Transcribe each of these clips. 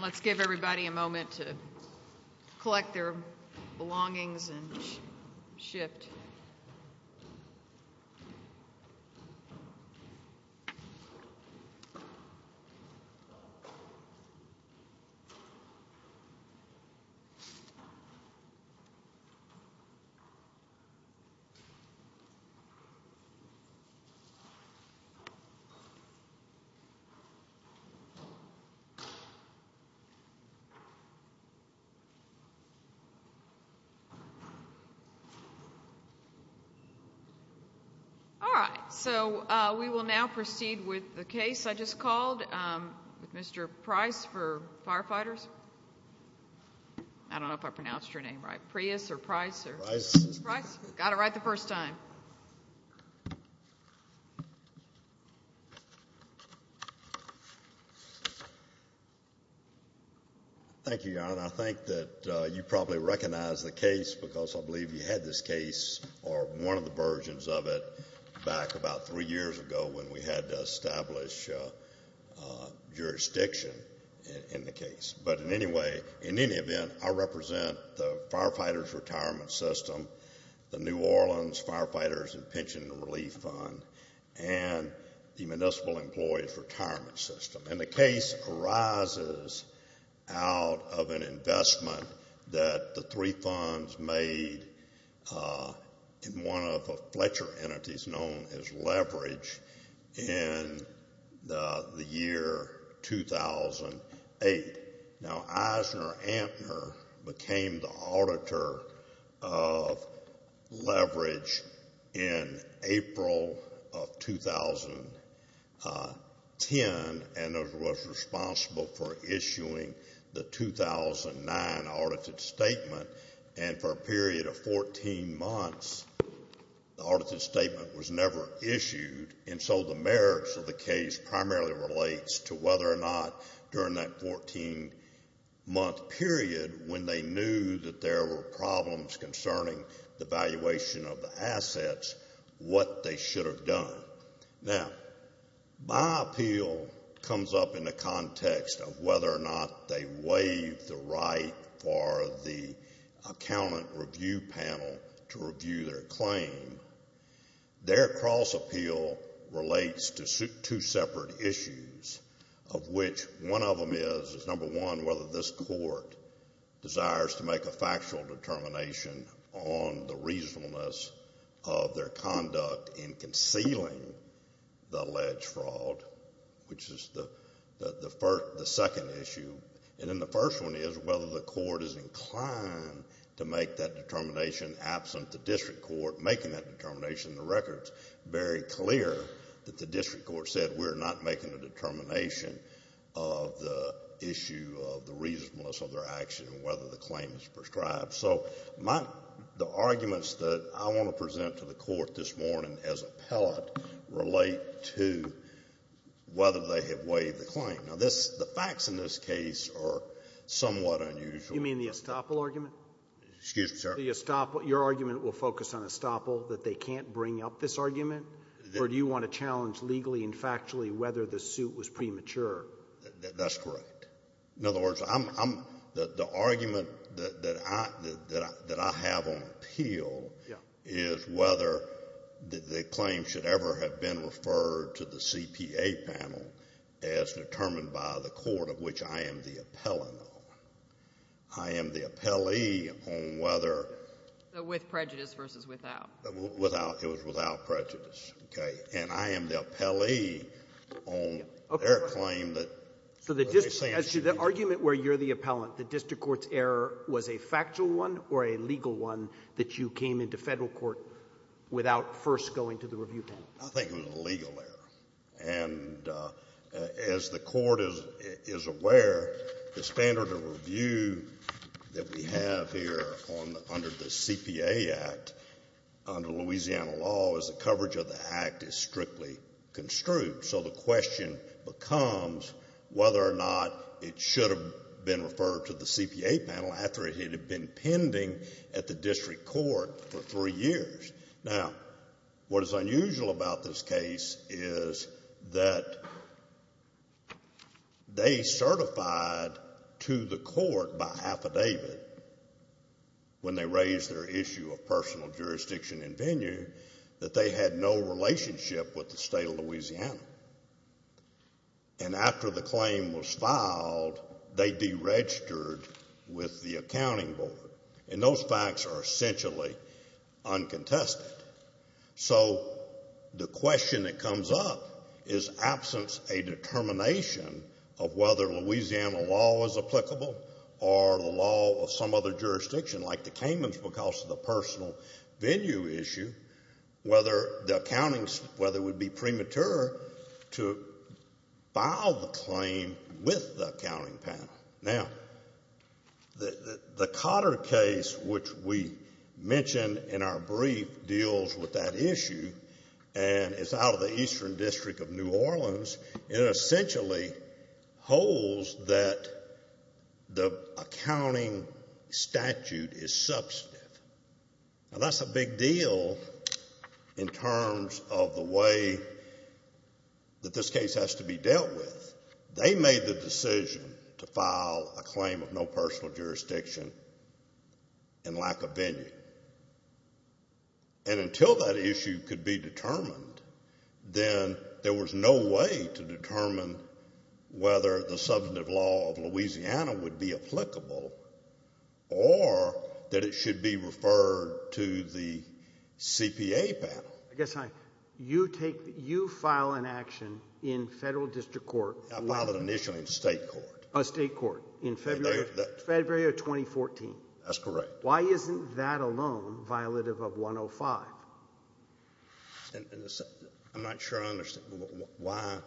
Let's give everybody a moment to collect their belongings and shift. All right, so we will now proceed with the case I just called with Mr. Price for Firefighters. I don't know if I pronounced your name right. Prius or Price? Got it right the first time. Thank you, Your Honor. I think that you probably recognize the case because I believe you had this case, or one of the versions of it, back about three years ago when we had to establish jurisdiction in the case. But in any event, I represent the Firefighters Retirement System, the New Orleans Firefighters and Pension Relief Fund, and the Municipal Employees Retirement System. And the case arises out of an investment that the three funds made in one of the Fletcher entities known as Leverage in the year 2008. Now, EisnerAmper became the auditor of Leverage in April of 2010 and was responsible for issuing the 2009 audited statement. And for a period of 14 months, the audited statement was never issued. And so the merits of the case primarily relates to whether or not, during that 14-month period, when they knew that there were problems concerning the valuation of the assets, what they should have done. Now, my appeal comes up in the context of whether or not they waived the right for the accountant review panel to review their claim. Their cross-appeal relates to two separate issues, of which one of them is, number one, whether this court desires to make a factual determination on the reasonableness of their conduct in concealing the alleged fraud, which is the second issue. And then the first one is whether the court is inclined to make that determination absent the district court making that determination. The record's very clear that the district court said, we're not making a determination of the issue of the reasonableness of their action and whether the claim is prescribed. So the arguments that I want to present to the court this morning as appellate relate to whether they have waived the claim. Now, the facts in this case are somewhat unusual. You mean the Estoppel argument? Excuse me, sir. The Estoppel. Your argument will focus on Estoppel, that they can't bring up this argument? Or do you want to challenge legally and factually whether the suit was premature? That's correct. In other words, I'm — the argument that I have on appeal is whether the claim should ever have been referred to the CPA panel as determined by the court, of which I am the appellant. I am the appellee on whether — With prejudice versus without. Without. It was without prejudice. Okay. And I am the appellee on their claim that — So the argument where you're the appellant, the district court's error was a factual one or a legal one that you came into Federal court without first going to the review panel? I think it was a legal error. And as the Court is aware, the standard of review that we have here under the CPA Act under Louisiana law is the coverage of the Act is strictly construed. So the question becomes whether or not it should have been referred to the CPA panel after it had been pending at the district court for three years. Now, what is unusual about this case is that they certified to the court by affidavit, when they raised their issue of personal jurisdiction and venue, that they had no relationship with the state of Louisiana. And after the claim was filed, they deregistered with the accounting board. And those facts are essentially uncontested. So the question that comes up is absence a determination of whether Louisiana law was applicable or the law of some other jurisdiction, like the Caymans because of the personal venue issue, whether the accounting — whether it would be premature to file the claim with the accounting panel. Now, the Cotter case, which we mentioned in our brief, deals with that issue. And it's out of the Eastern District of New Orleans. It essentially holds that the accounting statute is substantive. Now, that's a big deal in terms of the way that this case has to be dealt with. They made the decision to file a claim of no personal jurisdiction and lack of venue. And until that issue could be determined, then there was no way to determine whether the substantive law of Louisiana would be applicable or that it should be referred to the CPA panel. I guess I — you take — you file an action in Federal district court. I filed it initially in State court. State court in February of 2014. That's correct. Why isn't that alone violative of 105? I'm not sure I understand. Why?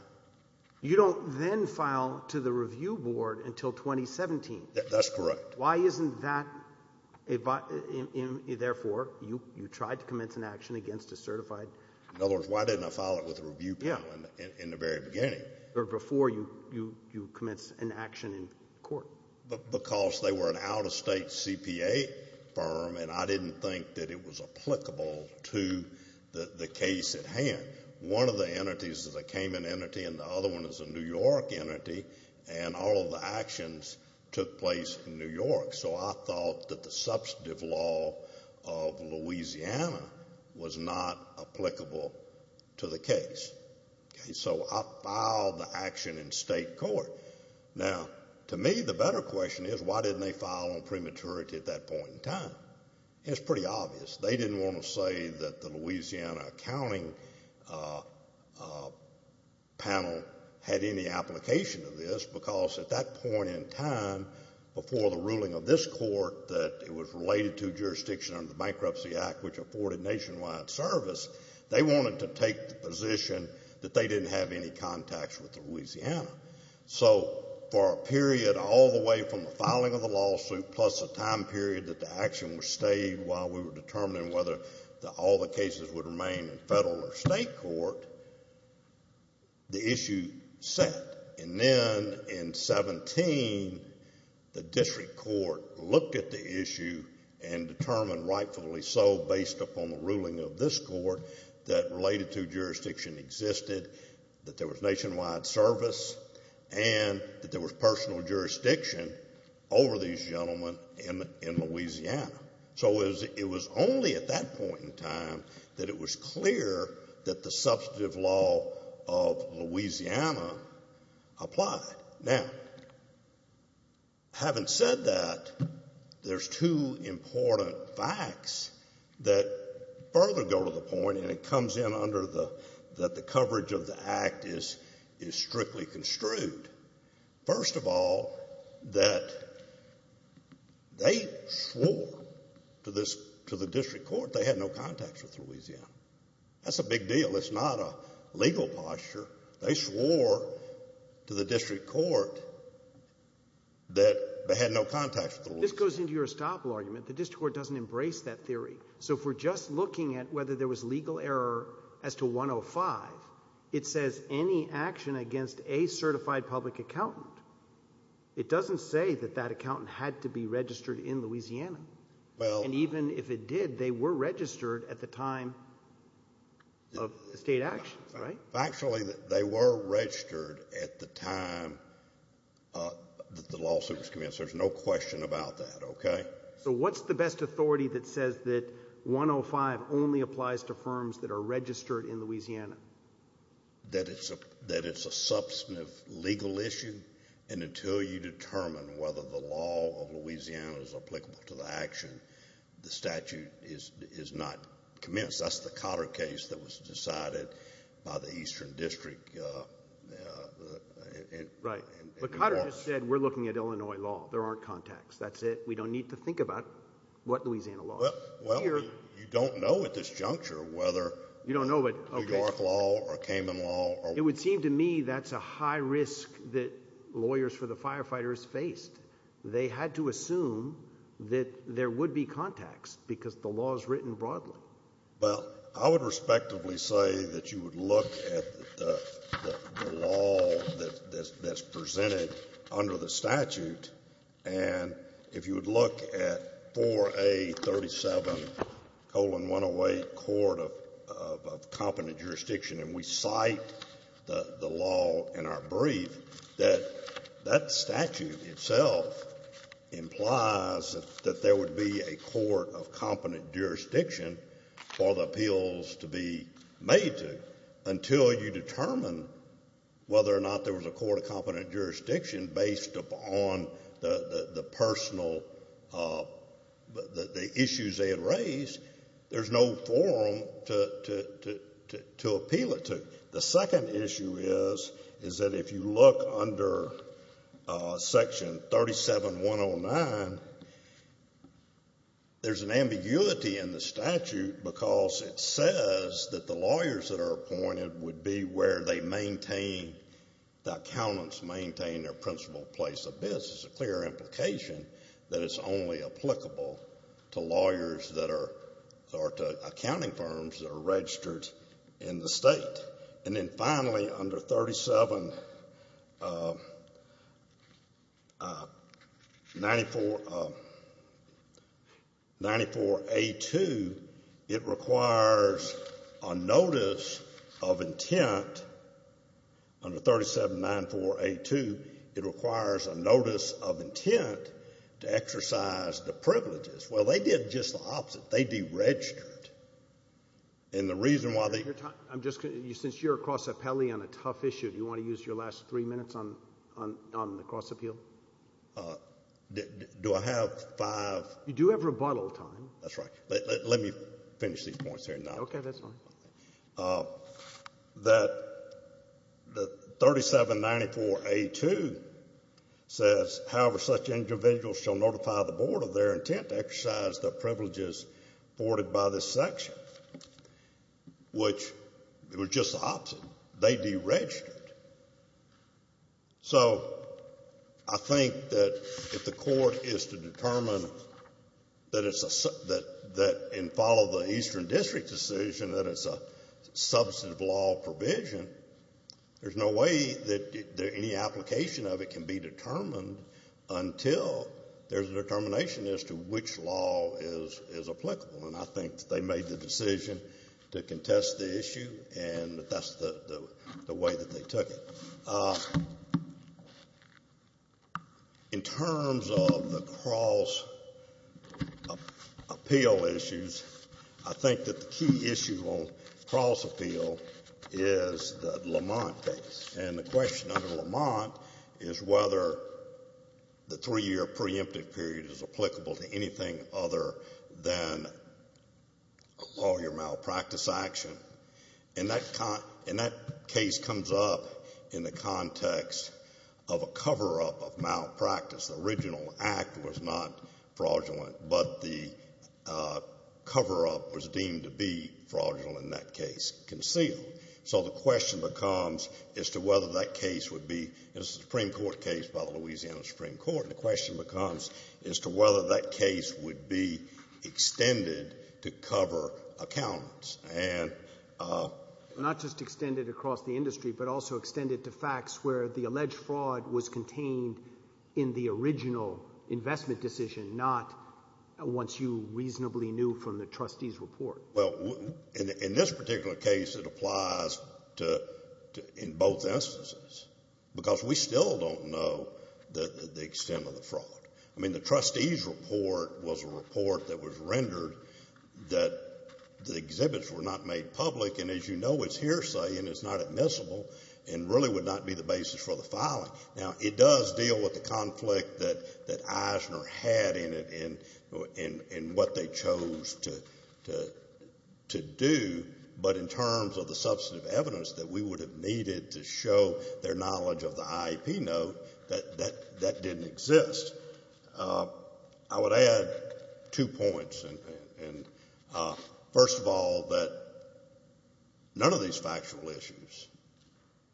You don't then file to the review board until 2017. That's correct. Why isn't that — therefore, you tried to commence an action against a certified? In other words, why didn't I file it with the review panel in the very beginning? Before you commence an action in court. Because they were an out-of-state CPA firm, and I didn't think that it was applicable to the case at hand. One of the entities is a Cayman entity, and the other one is a New York entity, and all of the actions took place in New York. So I thought that the substantive law of Louisiana was not applicable to the case. So I filed the action in State court. Now, to me, the better question is, why didn't they file on prematurity at that point in time? It's pretty obvious. They didn't want to say that the Louisiana accounting panel had any application to this, because at that point in time, before the ruling of this court that it was related to jurisdiction under the Bankruptcy Act, which afforded nationwide service, they wanted to take the position that they didn't have any contacts with Louisiana. So for a period all the way from the filing of the lawsuit, plus a time period that the action was stayed while we were determining whether all the cases would remain in federal or State court, the issue set. And then in 17, the district court looked at the issue and determined rightfully so, based upon the ruling of this court, that related to jurisdiction existed, that there was nationwide service, and that there was personal jurisdiction over these gentlemen in Louisiana. So it was only at that point in time that it was clear that the substantive law of Louisiana applied. Now, having said that, there's two important facts that further go to the point, and it comes in under that the coverage of the Act is strictly construed. First of all, that they swore to the district court they had no contacts with Louisiana. That's a big deal. It's not a legal posture. They swore to the district court that they had no contacts with Louisiana. This goes into your estoppel argument. The district court doesn't embrace that theory. So if we're just looking at whether there was legal error as to 105, it says any action against a certified public accountant, it doesn't say that that accountant had to be registered in Louisiana. And even if it did, they were registered at the time of State actions, right? Actually, they were registered at the time that the lawsuit was commenced. There's no question about that, okay? So what's the best authority that says that 105 only applies to firms that are registered in Louisiana? That it's a substantive legal issue, and until you determine whether the law of Louisiana is applicable to the action, the statute is not commenced. That's the Cotter case that was decided by the eastern district. Right. But Cotter just said we're looking at Illinois law. There aren't contacts. That's it. We don't need to think about what Louisiana law is. Well, you don't know at this juncture whether New York law or Cayman law. It would seem to me that's a high risk that lawyers for the firefighters faced. They had to assume that there would be contacts because the law is written broadly. Well, I would respectively say that you would look at the law that's presented under the statute, and if you would look at 4A37-108, court of competent jurisdiction, and we cite the law in our brief that that statute itself implies that there would be a court of competent jurisdiction for the appeals to be made to until you determine whether or not there was a court of competent jurisdiction based upon the issues they had raised, there's no forum to appeal it to. The second issue is that if you look under Section 37-109, there's an ambiguity in the statute because it says that the lawyers that are appointed would be where they maintain, the accountants maintain their principal place of business. It's a clear implication that it's only applicable to lawyers that are, or to accounting firms that are registered in the state. And then finally, under 3794A2, it requires a notice of intent. Under 3794A2, it requires a notice of intent to exercise the privileges. Well, they did just the opposite. They deregistered. And the reason why they— I'm just going to—since you're a cross appellee on a tough issue, do you want to use your last three minutes on the cross appeal? Do I have five— You do have rebuttal time. That's right. Let me finish these points here. Okay, that's fine. That 3794A2 says, however, such individuals shall notify the Board of their intent to exercise the privileges afforded by this section, which was just the opposite. They deregistered. So I think that if the Court is to determine that it's a— and follow the Eastern District decision that it's a substantive law provision, there's no way that any application of it can be determined until there's a determination as to which law is applicable. And I think they made the decision to contest the issue, and that's the way that they took it. In terms of the cross appeal issues, I think that the key issue on cross appeal is the Lamont case. And the question under Lamont is whether the three-year preemptive period is applicable to anything other than a lawyer malpractice action. And that case comes up in the context of a cover-up of malpractice. The original act was not fraudulent, but the cover-up was deemed to be fraudulent in that case, concealed. So the question becomes as to whether that case would be— this is a Supreme Court case by the Louisiana Supreme Court— and the question becomes as to whether that case would be extended to cover accountants. Not just extended across the industry, but also extended to facts where the alleged fraud was contained in the original investment decision, not once you reasonably knew from the trustee's report. Well, in this particular case it applies in both instances because we still don't know the extent of the fraud. I mean, the trustee's report was a report that was rendered that the exhibits were not made public, and as you know it's hearsay and it's not admissible and really would not be the basis for the filing. Now, it does deal with the conflict that Eisner had in it in what they chose to do, but in terms of the substantive evidence that we would have needed to show their knowledge of the IEP note, that didn't exist. I would add two points. First of all, that none of these factual issues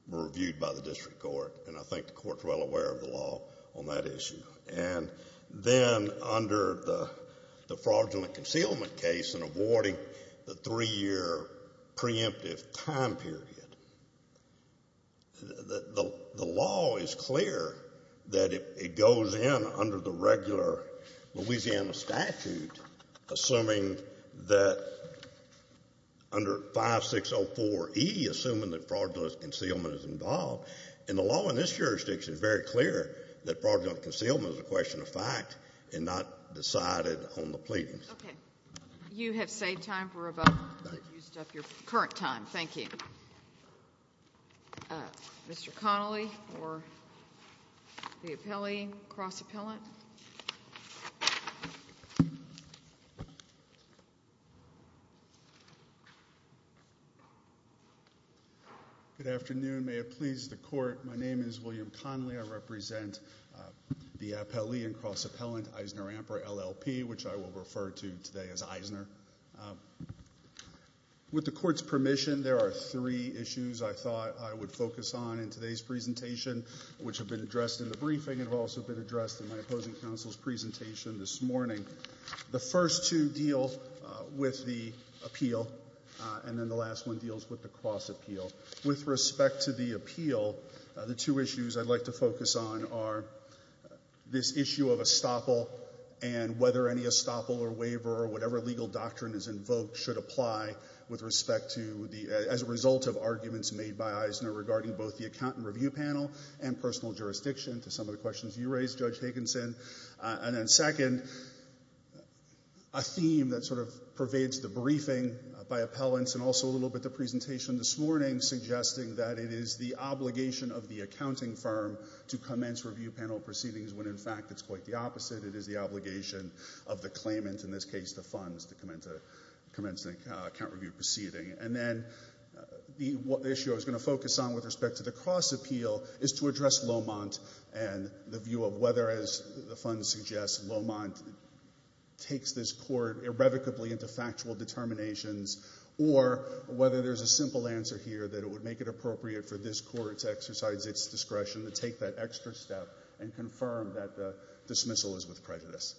were reviewed by the district court, and I think the court's well aware of the law on that issue. And then under the fraudulent concealment case and avoiding the three-year preemptive time period, the law is clear that it goes in under the regular Louisiana statute assuming that under 5604E, assuming that fraudulent concealment is involved. And the law in this jurisdiction is very clear that fraudulent concealment is a question of fact and not decided on the pleadings. Okay. You have saved time for a vote. Thank you. You've used up your current time. Thank you. Mr. Connolly for the appellee and cross-appellant. Good afternoon. May it please the Court, my name is William Connolly. I represent the appellee and cross-appellant Eisner-Amper LLP, which I will refer to today as Eisner. With the Court's permission, there are three issues I thought I would focus on in today's presentation, which have been addressed in the briefing and have also been addressed in my opposing counsel's presentation this morning. The first two deal with the appeal, and then the last one deals with the cross-appeal. With respect to the appeal, the two issues I'd like to focus on are this issue of estoppel and whether any estoppel or waiver or whatever legal doctrine is invoked should apply as a result of arguments made by Eisner regarding both the account and review panel and personal jurisdiction to some of the questions you raised, Judge Higginson. And then second, a theme that sort of pervades the briefing by appellants and also a little bit the presentation this morning, suggesting that it is the obligation of the accounting firm to commence review panel proceedings when in fact it's quite the opposite. It is the obligation of the claimant, in this case the funds, to commence an account review proceeding. And then the issue I was going to focus on with respect to the cross-appeal is to address Lomont and the view of whether, as the funds suggest, Lomont takes this Court irrevocably into factual determinations or whether there's a simple answer here that it would make it appropriate for this Court to exercise its discretion to take that extra step and confirm that the dismissal is with prejudice.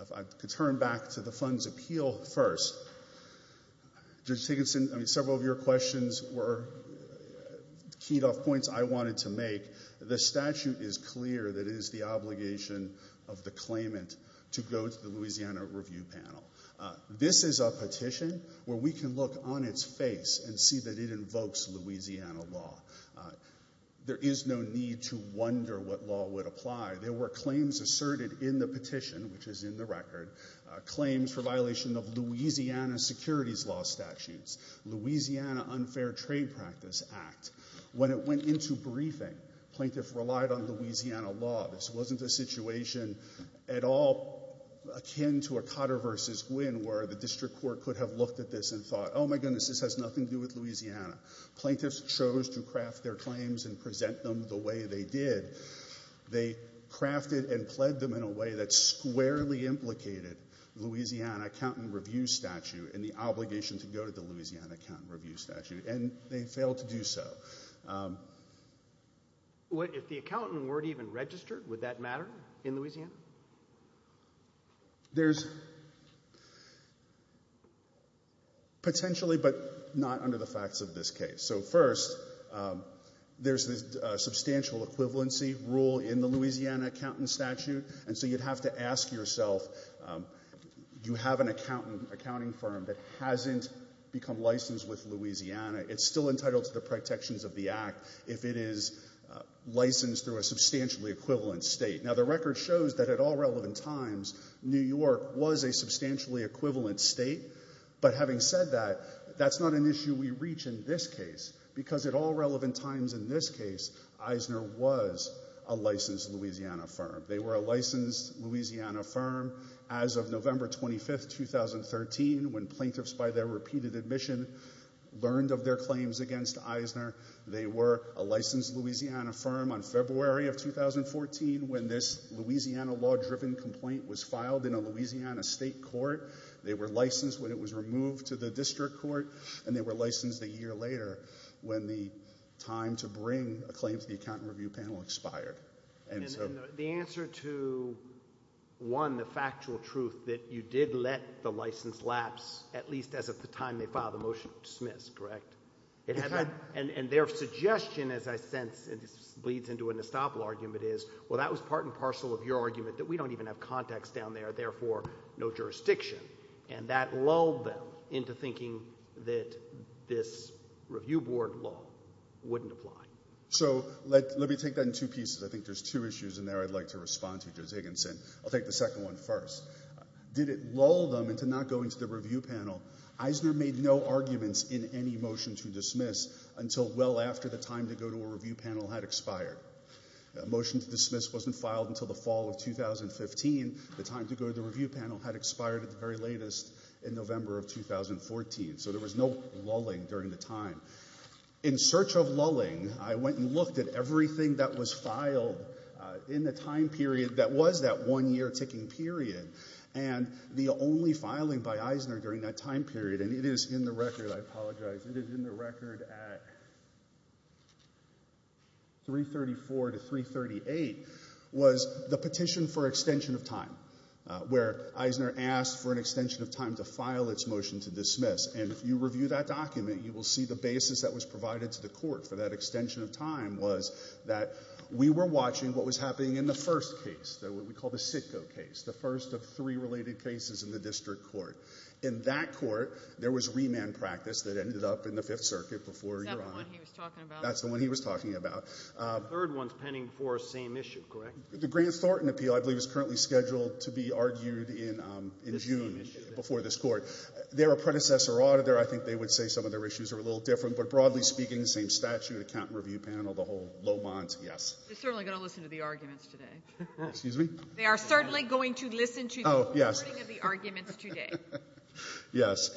If I could turn back to the funds appeal first. Judge Higginson, several of your questions were keyed off points I wanted to make. The statute is clear that it is the obligation of the claimant to go to the Louisiana review panel. This is a petition where we can look on its face and see that it invokes Louisiana law. There is no need to wonder what law would apply. There were claims asserted in the petition, which is in the record, claims for violation of Louisiana securities law statutes, Louisiana unfair trade practice act. When it went into briefing, plaintiffs relied on Louisiana law. This wasn't a situation at all akin to a Cotter v. Gwynn where the district court could have looked at this and thought, oh, my goodness, this has nothing to do with Louisiana. Plaintiffs chose to craft their claims and present them the way they did. They crafted and pled them in a way that squarely implicated the Louisiana accountant review statute and the obligation to go to the Louisiana accountant review statute, and they failed to do so. If the accountant weren't even registered, would that matter in Louisiana? There's potentially, but not under the facts of this case. So, first, there's this substantial equivalency rule in the Louisiana accountant statute, and so you'd have to ask yourself, do you have an accountant, accounting firm that hasn't become licensed with Louisiana? It's still entitled to the protections of the act if it is licensed through a substantially equivalent state. Now, the record shows that at all relevant times, New York was a substantially equivalent state, but having said that, that's not an issue we reach in this case because at all relevant times in this case, Eisner was a licensed Louisiana firm. They were a licensed Louisiana firm as of November 25, 2013, when plaintiffs by their repeated admission learned of their claims against Eisner. They were a licensed Louisiana firm on February of 2014 when this Louisiana law-driven complaint was filed in a Louisiana state court. They were licensed when it was removed to the district court, and they were licensed a year later when the time to bring a claim to the accountant review panel expired. And the answer to, one, the factual truth that you did let the license lapse, at least as of the time they filed the motion to dismiss, correct? And their suggestion, as I sense, and this bleeds into an estoppel argument is, well, that was part and parcel of your argument that we don't even have contacts down there, therefore, no jurisdiction. And that lulled them into thinking that this review board law wouldn't apply. So let me take that in two pieces. I think there's two issues in there I'd like to respond to, Judge Higginson. I'll take the second one first. Did it lull them into not going to the review panel? Eisner made no arguments in any motion to dismiss until well after the time to go to a review panel had expired. A motion to dismiss wasn't filed until the fall of 2015. The time to go to the review panel had expired at the very latest in November of 2014. So there was no lulling during the time. In search of lulling, I went and looked at everything that was filed in the time period that was that one-year ticking period, and the only filing by Eisner during that time period, and it is in the record, I apologize, it is in the record at 334 to 338, was the petition for extension of time, where Eisner asked for an extension of time to file its motion to dismiss. And if you review that document, you will see the basis that was provided to the court for that extension of time was that we were watching what was happening in the first case, what we call the Sitco case, the first of three related cases in the district court. In that court, there was remand practice that ended up in the Fifth Circuit before your honor. Is that the one he was talking about? That's the one he was talking about. The third one's pending for the same issue, correct? The Grant Thornton appeal, I believe, is currently scheduled to be argued in June before this court. Their apprentices or auditor, I think they would say some of their issues are a little different, but broadly speaking, the same statute, account review panel, the whole Lomont, yes. You're certainly going to listen to the arguments today. Excuse me? They are certainly going to listen to the recording of the arguments today. Yes.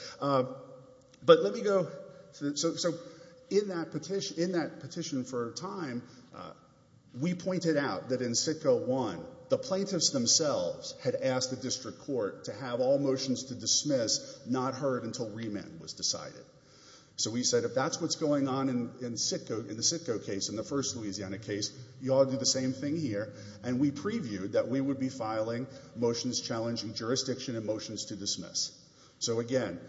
But let me go. So in that petition for time, we pointed out that in Sitco 1, the plaintiffs themselves had asked the district court to have all motions to dismiss not heard until remand was decided. So we said if that's what's going on in the Sitco case, in the first Louisiana case, you all do the same thing here, and we previewed that we would be filing motions challenging jurisdiction and motions to dismiss. So, again,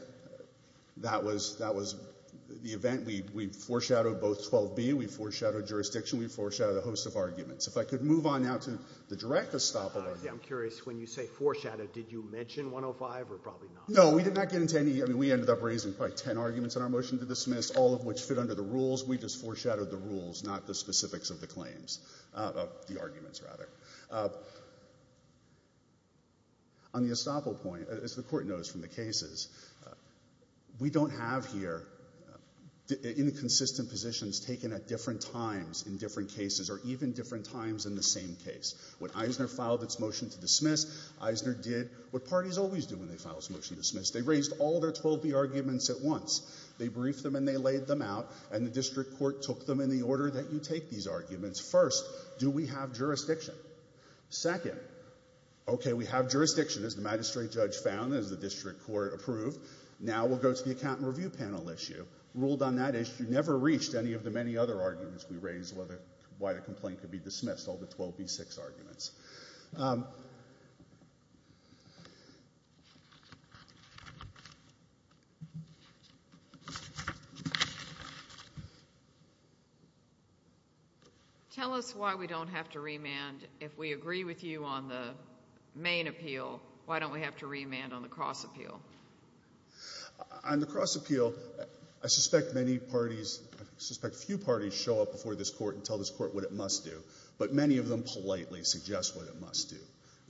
that was the event. We foreshadowed both 12B. We foreshadowed jurisdiction. We foreshadowed a host of arguments. If I could move on now to the direct estoppel argument. I'm curious. When you say foreshadowed, did you mention 105 or probably not? No, we did not get into any. I mean, we ended up raising probably ten arguments in our motion to dismiss, all of which fit under the rules. We just foreshadowed the rules, not the specifics of the claims, the arguments, rather. On the estoppel point, as the Court knows from the cases, we don't have here inconsistent positions taken at different times in different cases or even different times in the same case. When Eisner filed its motion to dismiss, Eisner did what parties always do when they file a motion to dismiss. They raised all their 12B arguments at once. They briefed them and they laid them out, and the district court took them in the order that you take these arguments. First, do we have jurisdiction? Second, okay, we have jurisdiction, as the magistrate judge found, as the district court approved. Now we'll go to the account and review panel issue. Ruled on that issue, never reached any of the many other arguments we raised, why the complaint could be dismissed, all the 12B-6 arguments. Tell us why we don't have to remand. If we agree with you on the main appeal, why don't we have to remand on the cross appeal? On the cross appeal, I suspect many parties, I suspect few parties show up before this court and tell this court what it must do, but many of them politely suggest what it must do.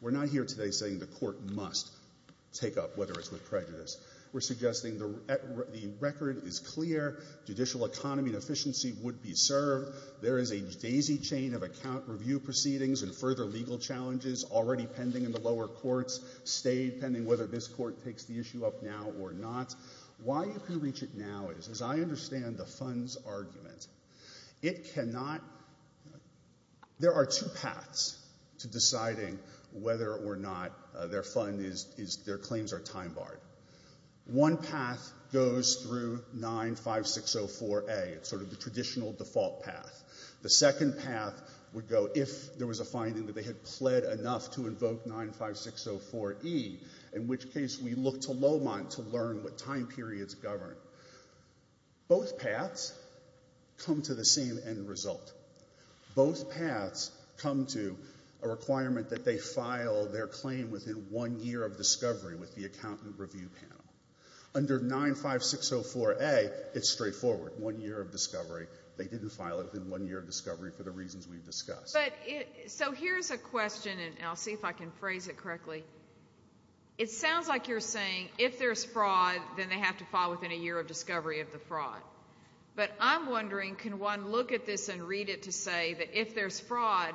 We're not here today saying the court must take up whether it's with prejudice. We're suggesting the record is clear, judicial economy and efficiency would be served, there is a daisy chain of account review proceedings and further legal challenges already pending in the lower courts, stay pending whether this court takes the issue up now or not. Why you can reach it now is, as I understand the funds argument, it cannot, there are two paths to deciding whether or not their fund is, their claims are time barred. One path goes through 95604A, it's sort of the traditional default path. The second path would go if there was a finding that they had pled enough to invoke 95604E, in which case we look to Lowmont to learn what time periods govern. Both paths come to the same end result. Both paths come to a requirement that they file their claim within one year of discovery with the accountant review panel. Under 95604A, it's straightforward, one year of discovery. They didn't file it within one year of discovery for the reasons we've discussed. But so here's a question, and I'll see if I can phrase it correctly. It sounds like you're saying if there's fraud, then they have to file within a year of discovery of the fraud. But I'm wondering, can one look at this and read it to say that if there's fraud,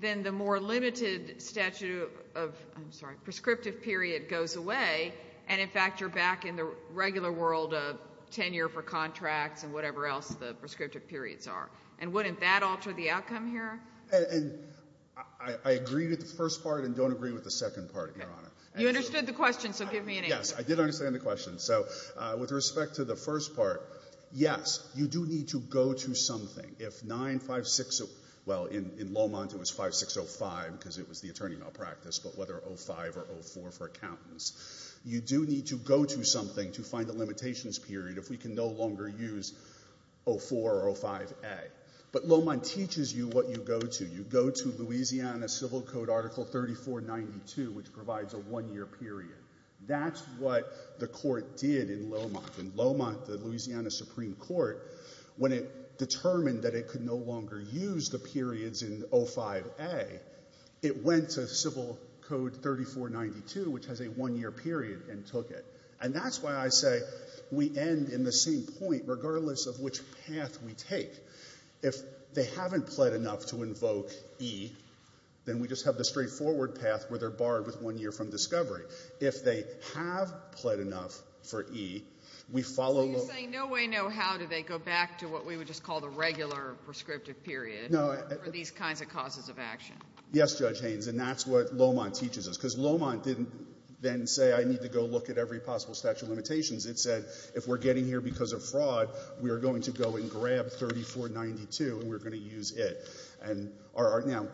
then the more limited statute of, I'm sorry, prescriptive period goes away, and in fact you're back in the regular world of 10-year for contracts and whatever else the prescriptive periods are. And wouldn't that alter the outcome here? I agree with the first part and don't agree with the second part, Your Honor. You understood the question, so give me an answer. Yes, I did understand the question. So with respect to the first part, yes, you do need to go to something. If 9560, well, in Lowmont it was 5605 because it was the attorney malpractice, but whether 05 or 04 for accountants. You do need to go to something to find a limitations period if we can no longer use 04 or 05A. But Lowmont teaches you what you go to. You go to Louisiana Civil Code Article 3492, which provides a one-year period. That's what the court did in Lowmont. In Lowmont, the Louisiana Supreme Court, when it determined that it could no longer use the periods in 05A, it went to Civil Code 3492, which has a one-year period, and took it. And that's why I say we end in the same point regardless of which path we take. If they haven't pled enough to invoke E, then we just have the straightforward path where they're barred with one year from discovery. If they have pled enough for E, we follow the law. So you're saying no way, no how do they go back to what we would just call the regular prescriptive period for these kinds of causes of action? Yes, Judge Haynes, and that's what Lowmont teaches us. Because Lowmont didn't then say I need to go look at every possible statute of limitations. It said if we're getting here because of fraud, we are going to go and grab 3492, and we're going to use it. And now,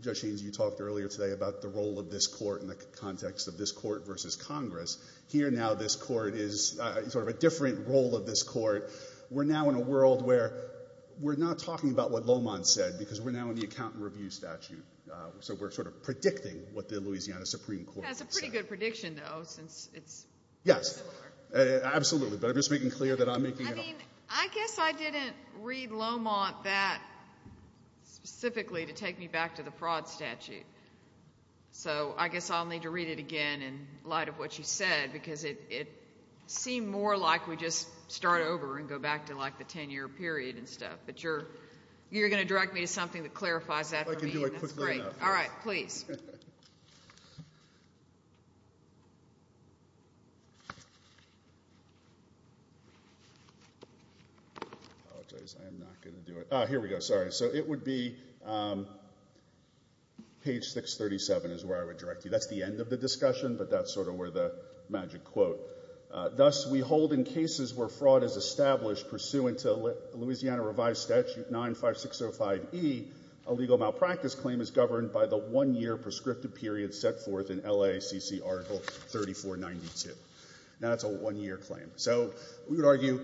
Judge Haynes, you talked earlier today about the role of this court in the context of this court versus Congress. Here now this court is sort of a different role of this court. We're now in a world where we're not talking about what Lowmont said because we're now in the accountant review statute. So we're sort of predicting what the Louisiana Supreme Court would say. That's a pretty good prediction, though, since it's similar. Yes, absolutely, but I'm just making clear that I'm making it up. I mean, I guess I didn't read Lowmont that specifically to take me back to the fraud statute. So I guess I'll need to read it again in light of what you said, because it seemed more like we just start over and go back to, like, the 10-year period and stuff. But you're going to direct me to something that clarifies that for me, and that's great. I can do it quickly enough. All right, please. I apologize. I am not going to do it. Here we go. Sorry. So it would be page 637 is where I would direct you. That's the end of the discussion, but that's sort of where the magic quote. Thus, we hold in cases where fraud is established pursuant to Louisiana Revised Statute 95605E, a legal malpractice claim is governed by the one-year prescriptive period set forth in LACC Article 3492. Now, that's a one-year claim. So we would argue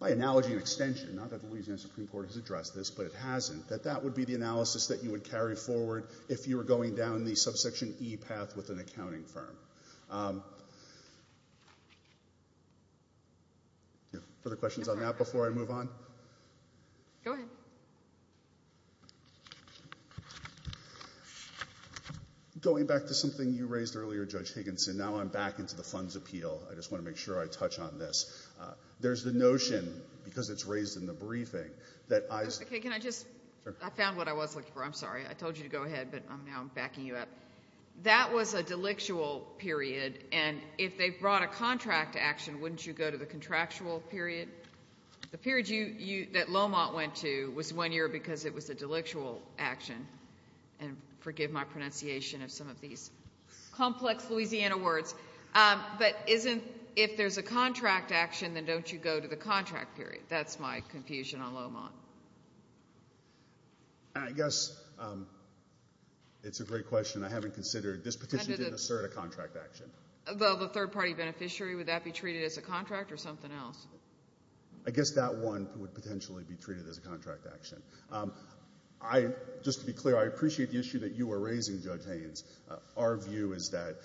by analogy and extension, not that the Louisiana Supreme Court has addressed this, but it hasn't, that that would be the analysis that you would carry forward if you were going down the subsection E path with an accounting firm. Further questions on that before I move on? Go ahead. Going back to something you raised earlier, Judge Higginson, now I'm back into the funds appeal. I just want to make sure I touch on this. There's the notion, because it's raised in the briefing, that I— Okay. Can I just—I found what I was looking for. I'm sorry. I told you to go ahead, but now I'm backing you up. That was a delictual period, and if they brought a contract action, wouldn't you go to the contractual period? The period that Lomont went to was one year because it was a delictual action, and forgive my pronunciation of some of these complex Louisiana words. But isn't—if there's a contract action, then don't you go to the contract period? That's my confusion on Lomont. I guess it's a great question. I haven't considered—this petition didn't assert a contract action. Well, the third-party beneficiary, would that be treated as a contract or something else? I guess that one would potentially be treated as a contract action. I—just to be clear, I appreciate the issue that you were raising, Judge Haynes. Our view is that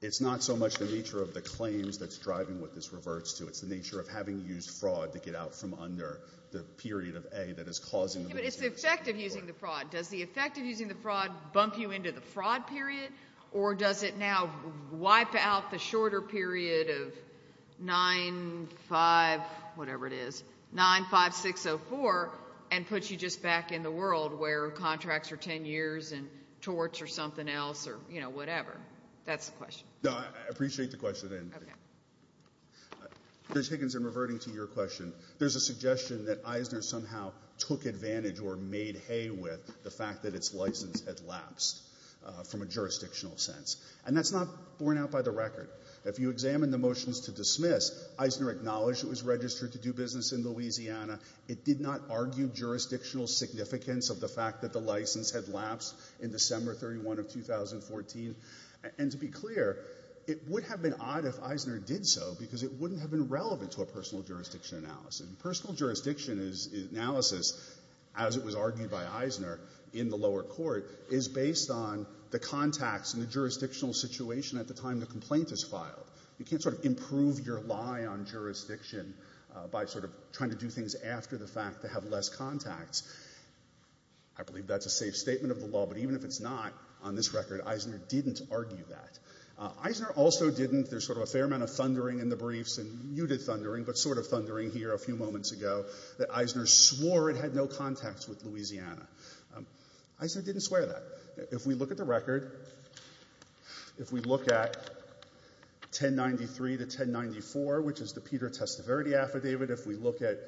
it's not so much the nature of the claims that's driving what this reverts to. It's the nature of having used fraud to get out from under the period of A that is causing— But it's the effect of using the fraud. Does the effect of using the fraud bump you into the fraud period, or does it now wipe out the shorter period of 9-5—whatever it is—9-5-6-0-4 and put you just back in the world where contracts are 10 years and torts are something else or whatever? That's the question. No, I appreciate the question. Judge Higgins, in reverting to your question, there's a suggestion that Eisner somehow took advantage or made hay with the fact that its license had lapsed from a jurisdictional sense. And that's not borne out by the record. If you examine the motions to dismiss, Eisner acknowledged it was registered to do business in Louisiana. It did not argue jurisdictional significance of the fact that the license had lapsed in December 31 of 2014. And to be clear, it would have been odd if Eisner did so because it wouldn't have been relevant to a personal jurisdiction analysis. Personal jurisdiction analysis, as it was argued by Eisner in the lower court, is based on the contacts and the jurisdictional situation at the time the complaint is filed. You can't sort of improve your lie on jurisdiction by sort of trying to do things after the fact to have less contacts. I believe that's a safe statement of the law, but even if it's not, on this record, Eisner didn't argue that. Eisner also didn't, there's sort of a fair amount of thundering in the briefs, and you did thundering, but sort of thundering here a few moments ago, that Eisner swore it had no contacts with Louisiana. Eisner didn't swear that. If we look at the record, if we look at 1093 to 1094, which is the Peter Testaverde affidavit, if we look at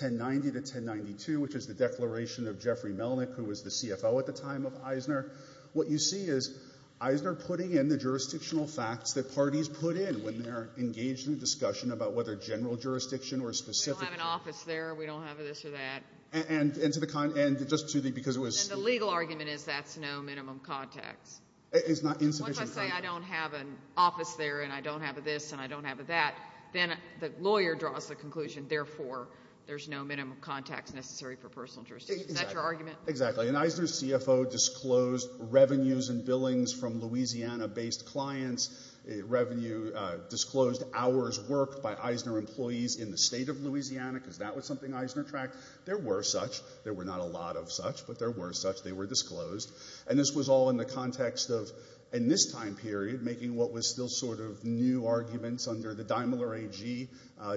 1090 to 1092, which is the declaration of Jeffrey Melnick, who was the CFO at the time of Eisner, what you see is Eisner putting in the jurisdictional facts that parties put in when they're engaged in a discussion about whether general jurisdiction or specific— We don't have an office there. We don't have this or that. And to the—just to the—because it was— And the legal argument is that's no minimum contacts. It's not insufficient— What if I say I don't have an office there and I don't have a this and I don't have a that? Then the lawyer draws the conclusion, therefore, there's no minimum contacts necessary for personal jurisdiction. Is that your argument? Exactly. And Eisner's CFO disclosed revenues and billings from Louisiana-based clients, revenue disclosed hours worked by Eisner employees in the state of Louisiana, because that was something Eisner tracked. There were such. There were not a lot of such, but there were such. They were disclosed. And this was all in the context of, in this time period, making what was still sort of new arguments under the Daimler AG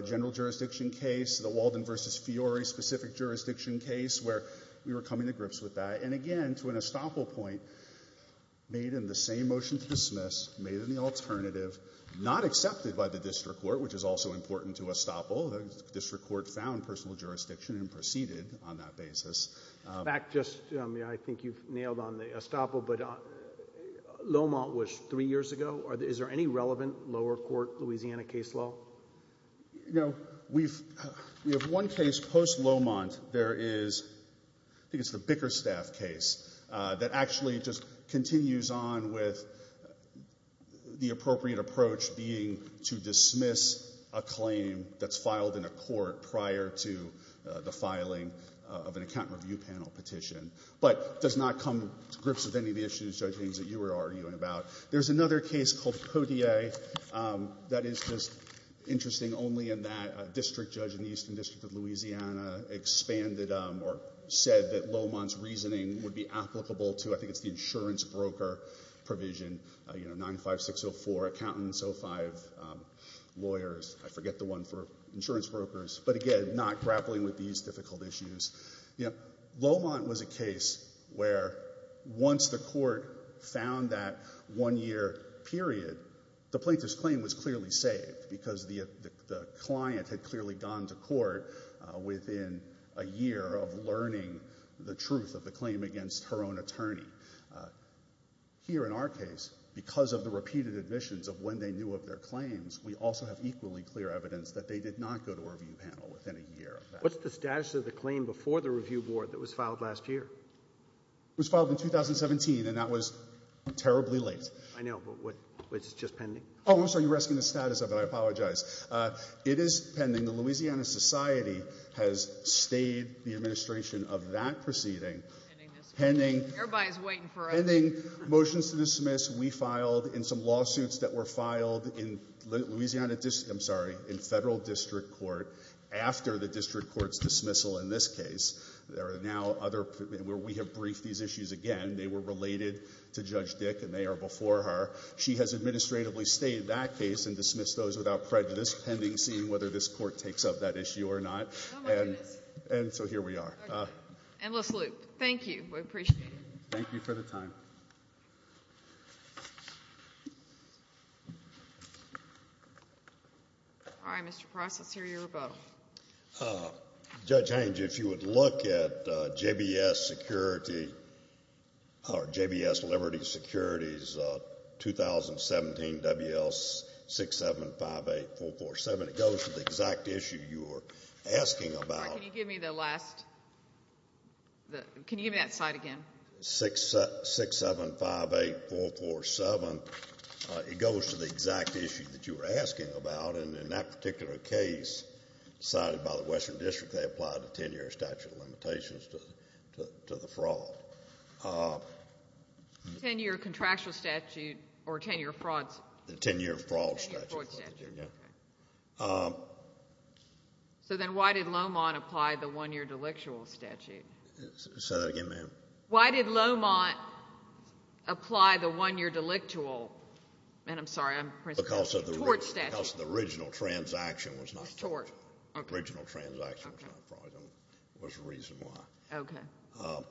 general jurisdiction case, the Walden v. Fiore specific jurisdiction case, where we were coming to grips with that. And, again, to an estoppel point, made in the same motion to dismiss, made in the alternative, not accepted by the district court, which is also important to estoppel. The district court found personal jurisdiction and proceeded on that basis. In fact, just, I mean, I think you've nailed on the estoppel, but Lomont was three years ago. Is there any relevant lower court Louisiana case law? No. We have one case post-Lomont. There is, I think it's the Bickerstaff case that actually just continues on with the appropriate approach being to dismiss a claim that's filed in a court prior to the filing of an accountant review panel petition, but does not come to grips with any of the issues, judge Haines, that you were arguing about. There's another case called Cotier that is just interesting only in that a district judge in the Eastern District of Louisiana expanded or said that Lomont's reasoning would be applicable to, I think it's the insurance broker provision, you know, 95604 accountants, 05 lawyers. I forget the one for insurance brokers, but again, not grappling with these difficult issues. You know, Lomont was a case where once the court found that one-year period, the plaintiff's claim was clearly saved because the client had clearly gone to court within a year of learning the truth of the claim against her own attorney. Here in our case, because of the repeated admissions of when they knew of their claims, we also have equally clear evidence that they did not go to a review panel within a year of that. What's the status of the claim before the review board that was filed last year? It was filed in 2017, and that was terribly late. I know, but was it just pending? Oh, I'm sorry. You're asking the status of it. I apologize. It is pending. The Louisiana Society has stayed the administration of that proceeding. Pending motions to dismiss. We filed in some lawsuits that were filed in federal district court after the district court's dismissal in this case. We have briefed these issues again. They were related to Judge Dick, and they are before her. She has administratively stayed that case and dismissed those without prejudice, pending seeing whether this court takes up that issue or not. Oh, my goodness. And so here we are. Endless loop. Thank you. We appreciate it. Thank you for the time. All right, Mr. Price, let's hear your rebuttal. Judge Haines, if you would look at JBS security, or JBS Liberty Security's 2017 WL6758447, it goes to the exact issue you were asking about. I'm sorry. Can you give me the last? Can you give me that side again? 6758447, it goes to the exact issue that you were asking about, and in that particular case cited by the Western District, they applied the 10-year statute of limitations to the fraud. 10-year contractual statute or 10-year fraud statute. The 10-year fraud statute. Fraud statute, okay. So then why did Lomont apply the one-year delictual statute? Say that again, ma'am. Why did Lomont apply the one-year delictual? Ma'am, I'm sorry, I'm pressing. Because of the original transaction was not fraudulent. It was tort. Original transaction was not fraudulent. There was a reason why. Okay.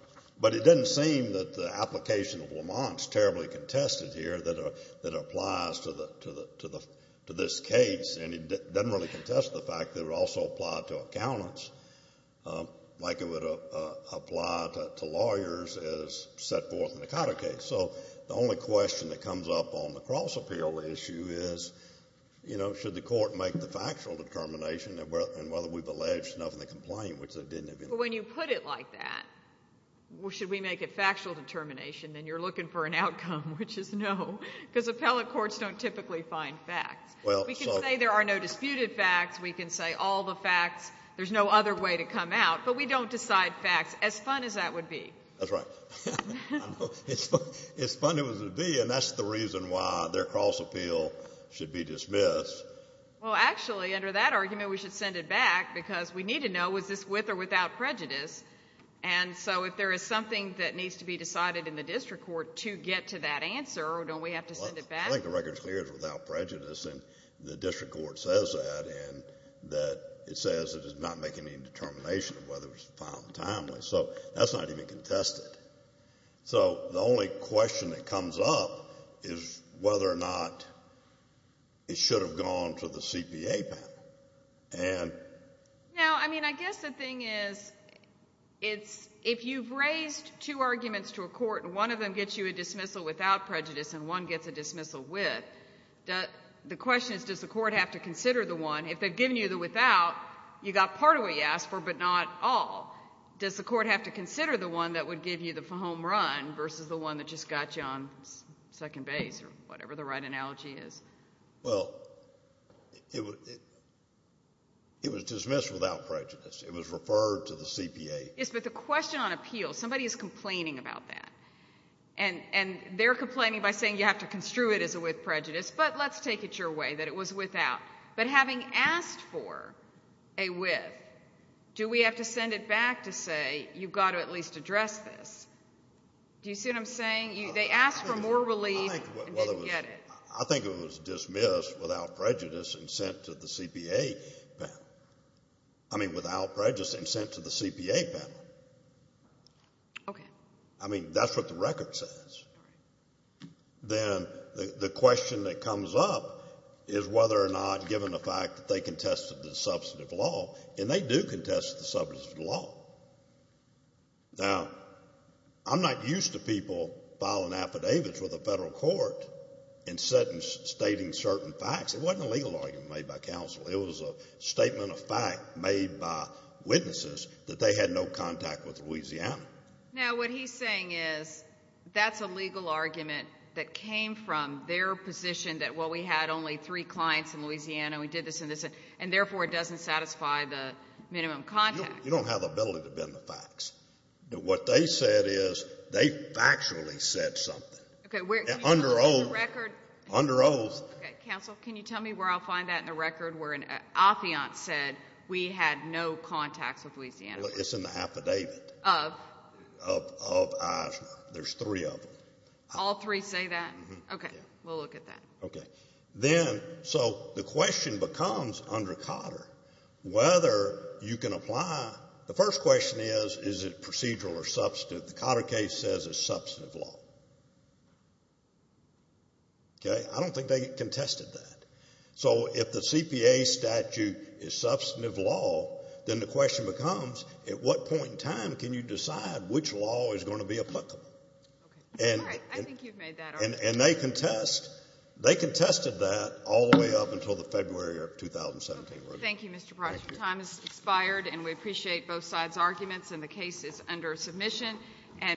But it doesn't seem that the application of Lomont is terribly contested here that it applies to this case, and it doesn't really contest the fact that it would also apply to accountants like it would apply to lawyers as set forth in the Cotter case. So the only question that comes up on the cross-appeal issue is, you know, should the court make the factual determination, and whether we've alleged enough in the complaint, which they didn't. But when you put it like that, should we make a factual determination, then you're looking for an outcome, which is no, because appellate courts don't typically find facts. We can say there are no disputed facts. We can say all the facts, there's no other way to come out. But we don't decide facts, as fun as that would be. That's right. As fun as it would be, and that's the reason why their cross-appeal should be dismissed. Well, actually, under that argument, we should send it back, because we need to know was this with or without prejudice. And so if there is something that needs to be decided in the district court to get to that answer, don't we have to send it back? Well, I think the record is clear it's without prejudice, and the district court says that, and that it says it is not making any determination of whether it was found timely. So that's not even contested. So the only question that comes up is whether or not it should have gone to the CPA panel. Ann? No, I mean, I guess the thing is, if you've raised two arguments to a court and one of them gets you a dismissal without prejudice and one gets a dismissal with, the question is does the court have to consider the one? If they've given you the without, you got part of what you asked for, but not all. Does the court have to consider the one that would give you the home run versus the one that just got you on second base, or whatever the right analogy is? Well, it was dismissed without prejudice. It was referred to the CPA. Yes, but the question on appeal, somebody is complaining about that, and they're complaining by saying you have to construe it as a with prejudice, but let's take it your way that it was without. But having asked for a with, do we have to send it back to say you've got to at least address this? Do you see what I'm saying? They asked for more relief and didn't get it. I think it was dismissed without prejudice and sent to the CPA panel. I mean without prejudice and sent to the CPA panel. Okay. I mean that's what the record says. Then the question that comes up is whether or not, given the fact that they contested the substantive law, and they do contest the substantive law. Now, I'm not used to people filing affidavits with the federal court and stating certain facts. It wasn't a legal argument made by counsel. It was a statement of fact made by witnesses that they had no contact with Louisiana. Now, what he's saying is that's a legal argument that came from their position that, well, we had only three clients in Louisiana, we did this and this, and therefore it doesn't satisfy the minimum contact. You don't have the ability to bend the facts. What they said is they factually said something. Okay. Under oath. Under oath. Okay. Counsel, can you tell me where I'll find that in the record where an affiant said we had no contacts with Louisiana? It's in the affidavit. Of? Of Aja. There's three of them. All three say that? Mm-hmm. Okay. We'll look at that. Okay. So the question becomes under Cotter whether you can apply. The first question is, is it procedural or substantive? The Cotter case says it's substantive law. Okay? I don't think they contested that. So if the CPA statute is substantive law, then the question becomes at what point in time can you decide which law is going to be applicable? All right. I think you've made that argument. And they contested that all the way up until the February of 2017. Okay. Thank you, Mr. Price. Your time has expired, and we appreciate both sides' arguments, and the case is under submission.